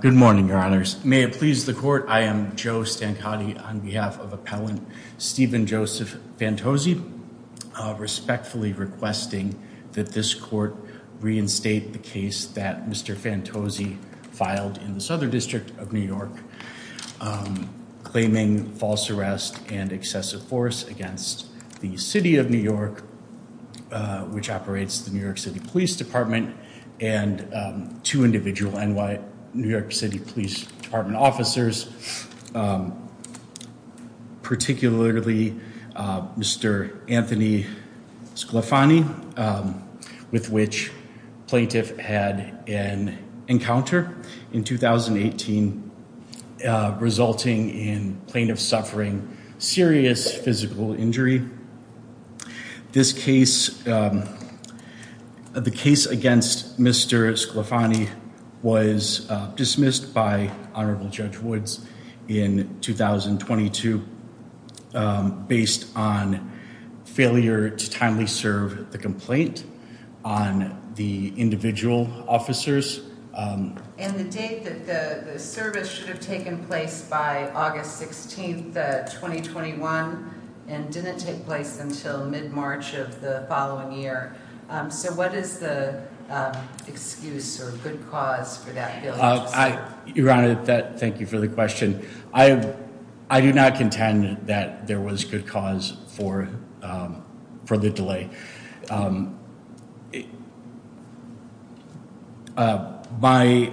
Good morning, your honors. May it please the court, I am Joe Stancotti on behalf of requesting that this court reinstate the case that Mr. Fantozzi filed in the Southern District of New York, claiming false arrest and excessive force against the City of New York, which operates the New York City Police Department and two individual NY, New York City Police Department officers, particularly Mr. Anthony Sclafani, with which plaintiff had an encounter in 2018, resulting in plaintiff suffering serious physical injury. This case, um, the case against Mr. Sclafani was dismissed by Honorable Judge Woods in 2022, based on failure to timely serve the complaint on the individual officers. And the date that the service should have taken place by August 16, 2021, and didn't take place until mid-March of the following year. So what is the excuse or good cause for that? Your Honor, thank you for the question. I do not contend that there was good cause for the delay. My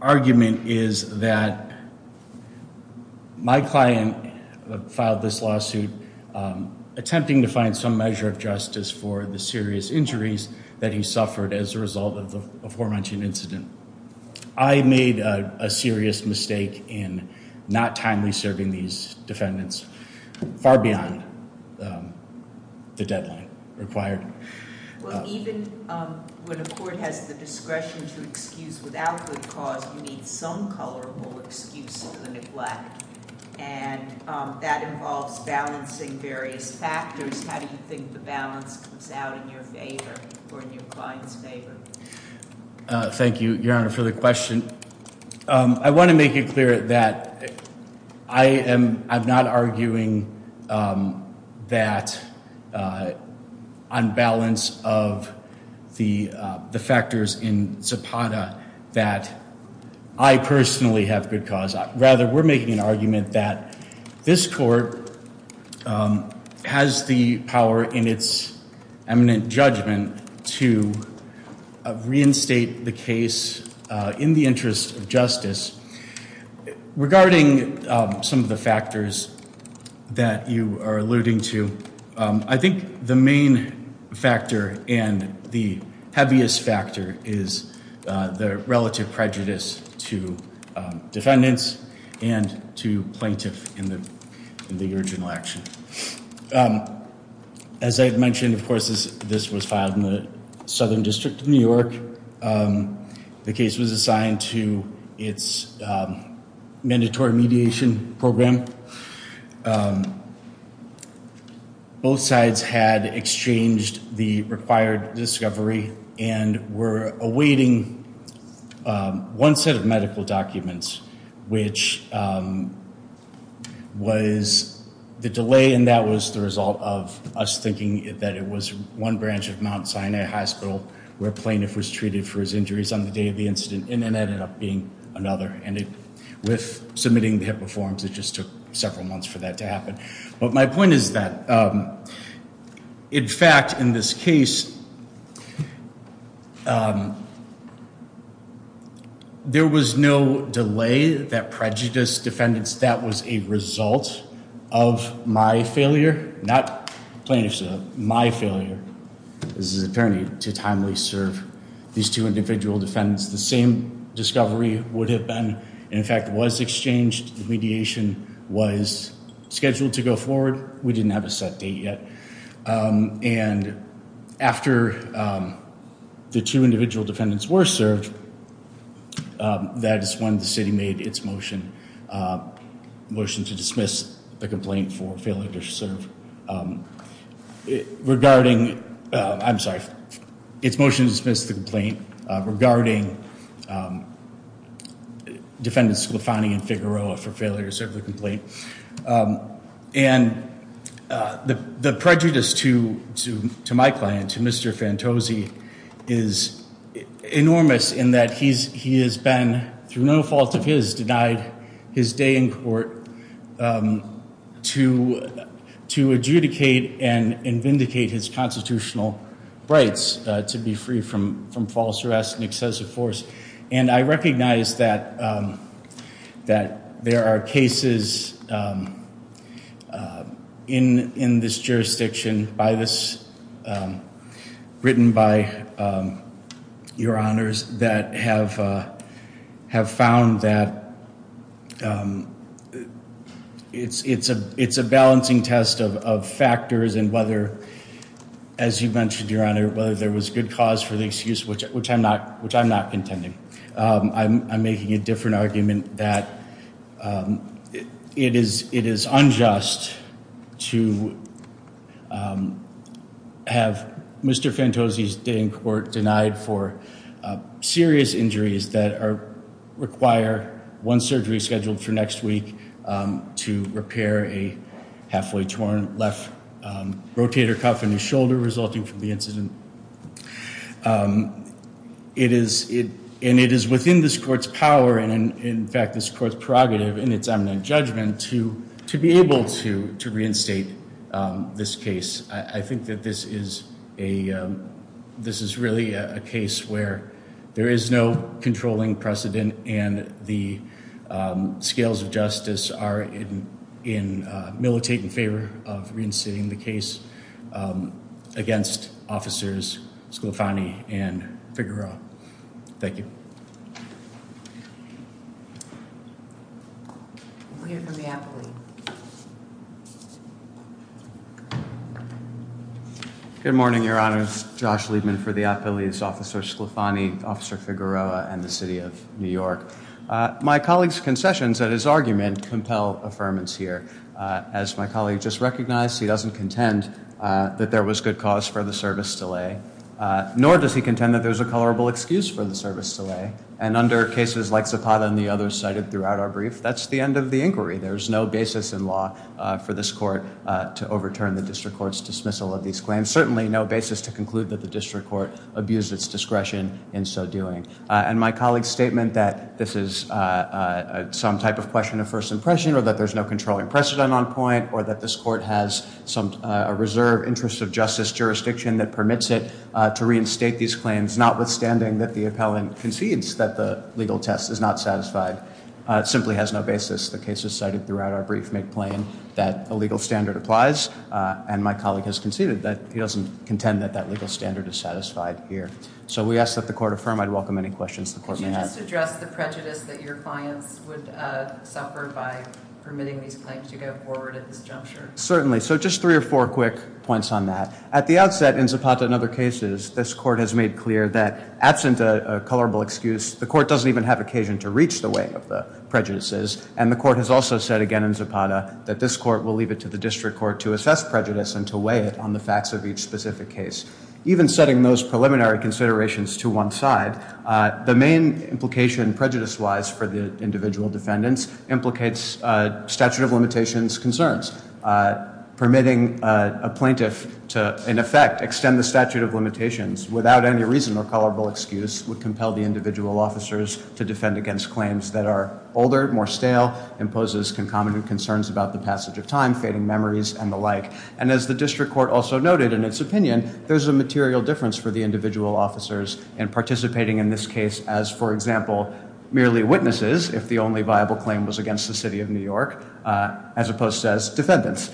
argument is that my client filed this lawsuit attempting to find some measure of justice for the serious injuries that he suffered as a result of the aforementioned incident. I made a serious mistake in not timely serving these defendants far beyond the deadline required. Well, even when a court has the discretion to excuse without good cause, you need some colorable excuse for the neglect. And that involves balancing various factors. How do you think the balance comes out in your favor or in your client's favor? Thank you, Your Honor, for the question. I want to make it clear that I am not arguing that on balance of the factors in Zapata that I personally have good cause. Rather, we're making an argument that this court has the power in its eminent judgment to reinstate the case in the interest of justice. Regarding some of the factors that you are alluding to, I think the main factor and the heaviest factor is the relative prejudice to defendants and to plaintiff in the in the original action. As I mentioned, of course, this was filed in the Southern District of New York. The case was assigned to its mandatory mediation program. Both sides had exchanged the required discovery and were awaiting one set of medical documents, which was the delay, and that was the result of us thinking that it was one branch of Mount Sinai Hospital where a plaintiff was treated for his injuries on the day of the incident and ended up being another. And with submitting the HIPAA forms, it just took several months for that to happen. But my point is that, in fact, in this not plaintiff's, my failure as an attorney to timely serve these two individual defendants, the same discovery would have been, in fact, was exchanged. The mediation was scheduled to go forward. We didn't have a set date yet. And after the two individual defendants were served, that is when the city made its motion to dismiss the complaint for failure to serve regarding, I'm sorry, its motion to dismiss the complaint regarding defendants Sclafani and Figueroa for failure to serve the complaint. And the prejudice to my client, to Mr. Fantosi, is enormous in that he has been, through no fault of his, denied his day in court to adjudicate and vindicate his constitutional rights to be free from false arrest and excessive force. And I recognize that there are cases in this jurisdiction by this, written by your honors, that have found that it's a balancing test of factors and whether, as you mentioned, your honor, whether there was good cause for the excuse, which I'm not contending. I'm making a different argument that it is unjust to have Mr. Fantosi's day in court denied for serious injuries that are, require one surgery scheduled for next week to repair a halfway torn left rotator cuff in his shoulder resulting from the incident. And it is within this court's power, and in fact, this court's prerogative in its eminent judgment to be able to reinstate this case. I think that this is a, this is really a case where there is no controlling precedent and the scales of justice are in militate in favor of reinstating the case against officers Sclafani and Figueroa. Thank you. We're here for the affiliate. Good morning, your honors. Josh Liebman for the affiliates, Officer Sclafani, Officer Figueroa, and the City of New York. My colleague's concessions at his argument compel affirmance here. As my colleague just recognized, he doesn't contend that there was good cause for the service delay, nor does he contend that there's a colorable excuse for the That's the end of the inquiry. There's no basis in law for this court to overturn the district court's dismissal of these claims. Certainly no basis to conclude that the district court abused its discretion in so doing. And my colleague's statement that this is some type of question of first impression, or that there's no controlling precedent on point, or that this court has some reserve interest of justice jurisdiction that permits it to reinstate these claims, notwithstanding that the appellant concedes that the legal test is not satisfied. It simply has no basis. The case is cited throughout our brief make plain that a legal standard applies, and my colleague has conceded that he doesn't contend that that legal standard is satisfied here. So we ask that the court affirm. I'd welcome any questions the court may have. Could you just address the prejudice that your clients would suffer by permitting these claims to go forward at this juncture? Certainly. So just three or four quick points on that. At the outset in Zapata and other cases, this court has made clear that absent a colorable excuse, the court doesn't even have occasion to reach the weight of the prejudices, and the court has also said again in Zapata that this court will leave it to the district court to assess prejudice and to weigh it on the facts of each specific case. Even setting those preliminary considerations to one side, the main implication prejudice-wise for the individual defendants implicates statute of limitations concerns. Permitting a plaintiff to, in effect, extend the statute of to defend against claims that are older, more stale, imposes concomitant concerns about the passage of time, fading memories, and the like. And as the district court also noted in its opinion, there's a material difference for the individual officers in participating in this case as, for example, merely witnesses if the only viable claim was against the city of New York, as opposed to as defendants.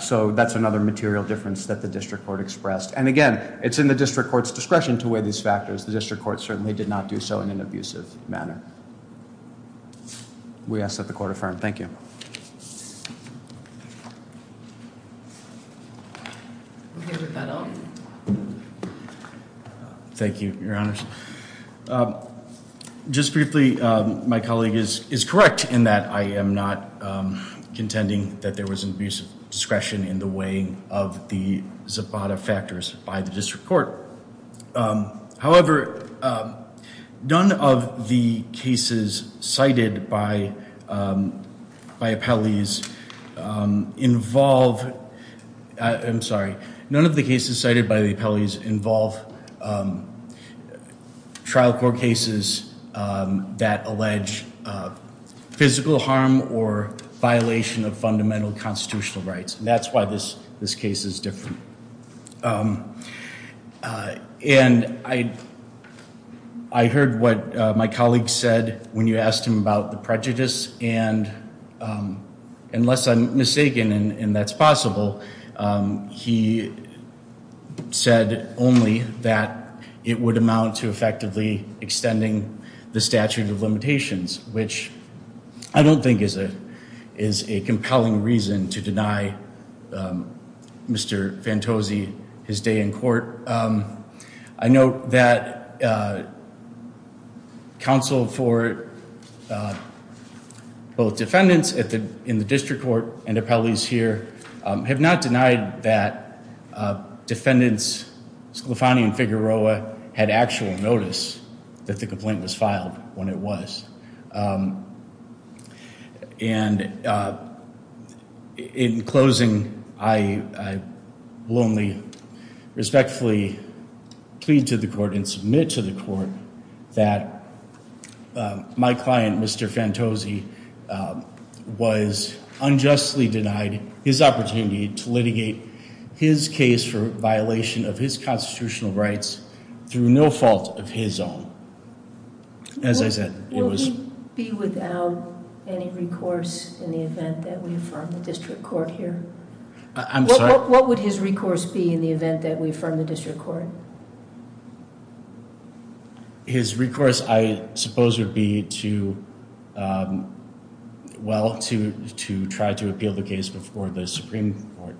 So that's another material difference that the district court expressed. And again, it's in the district court's discretion to weigh these factors. The district court certainly did not do so in an abusive manner. We ask that the court affirm. Thank you. Thank you, your honors. Just briefly, my colleague is correct in that I am not contending that there was an abuse of discretion in the weighing of the Zapata factors by the district court. None of the cases cited by the appellees involve trial court cases that allege physical harm or violation of fundamental constitutional rights. That's why this case is different. And I heard what my colleague said when you asked him about the prejudice. And unless I'm mistaken, and that's possible, he said only that it would amount to effectively extending the statute of limitations, which I don't think is a compelling reason to deny Mr. Fantosi his day in court. I note that counsel for both defendants in the district court and appellees here have not denied that defendants Sclafani and Figueroa had actual notice that the complaint was filed when it was. And in closing, I will only respectfully plead to the court and submit to the court that my client, Mr. Fantosi, was unjustly denied his opportunity to litigate his case for violation of his constitutional rights through no fault of his own. As I said, it was... Would he be without any recourse in the event that we affirm the district court here? I'm sorry? What would his recourse be in the event that we affirm the district court? His recourse, I suppose, would be to, well, to try to appeal the case before the Supreme Court.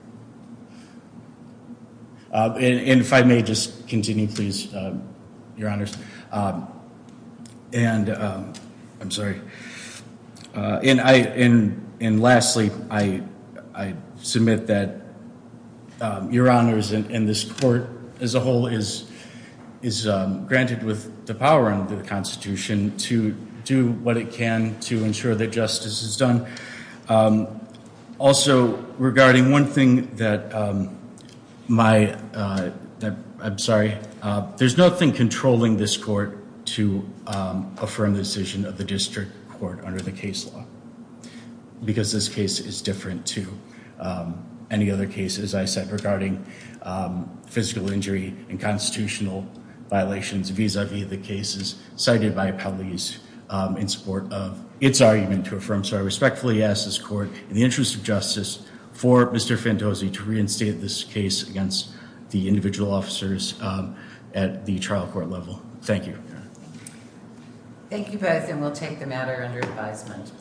And if I may just continue, please, your honors. And I'm sorry. And lastly, I submit that your honors and this court as a whole is granted with the power under the Constitution to do what it can to ensure that justice is done. Also, regarding one thing that my... I'm sorry. There's nothing controlling this court to affirm the decision of the district court under the case law because this case is different to any other case, as I said, regarding physical injury and constitutional violations vis-a-vis the cases cited by appellees in support of its argument to affirm. So I respectfully ask this court, in the interest of justice, for Mr. Fantosi to reinstate this case against the individual officers at the trial court level. Thank you. Thank you both, and we'll take the matter under advisement.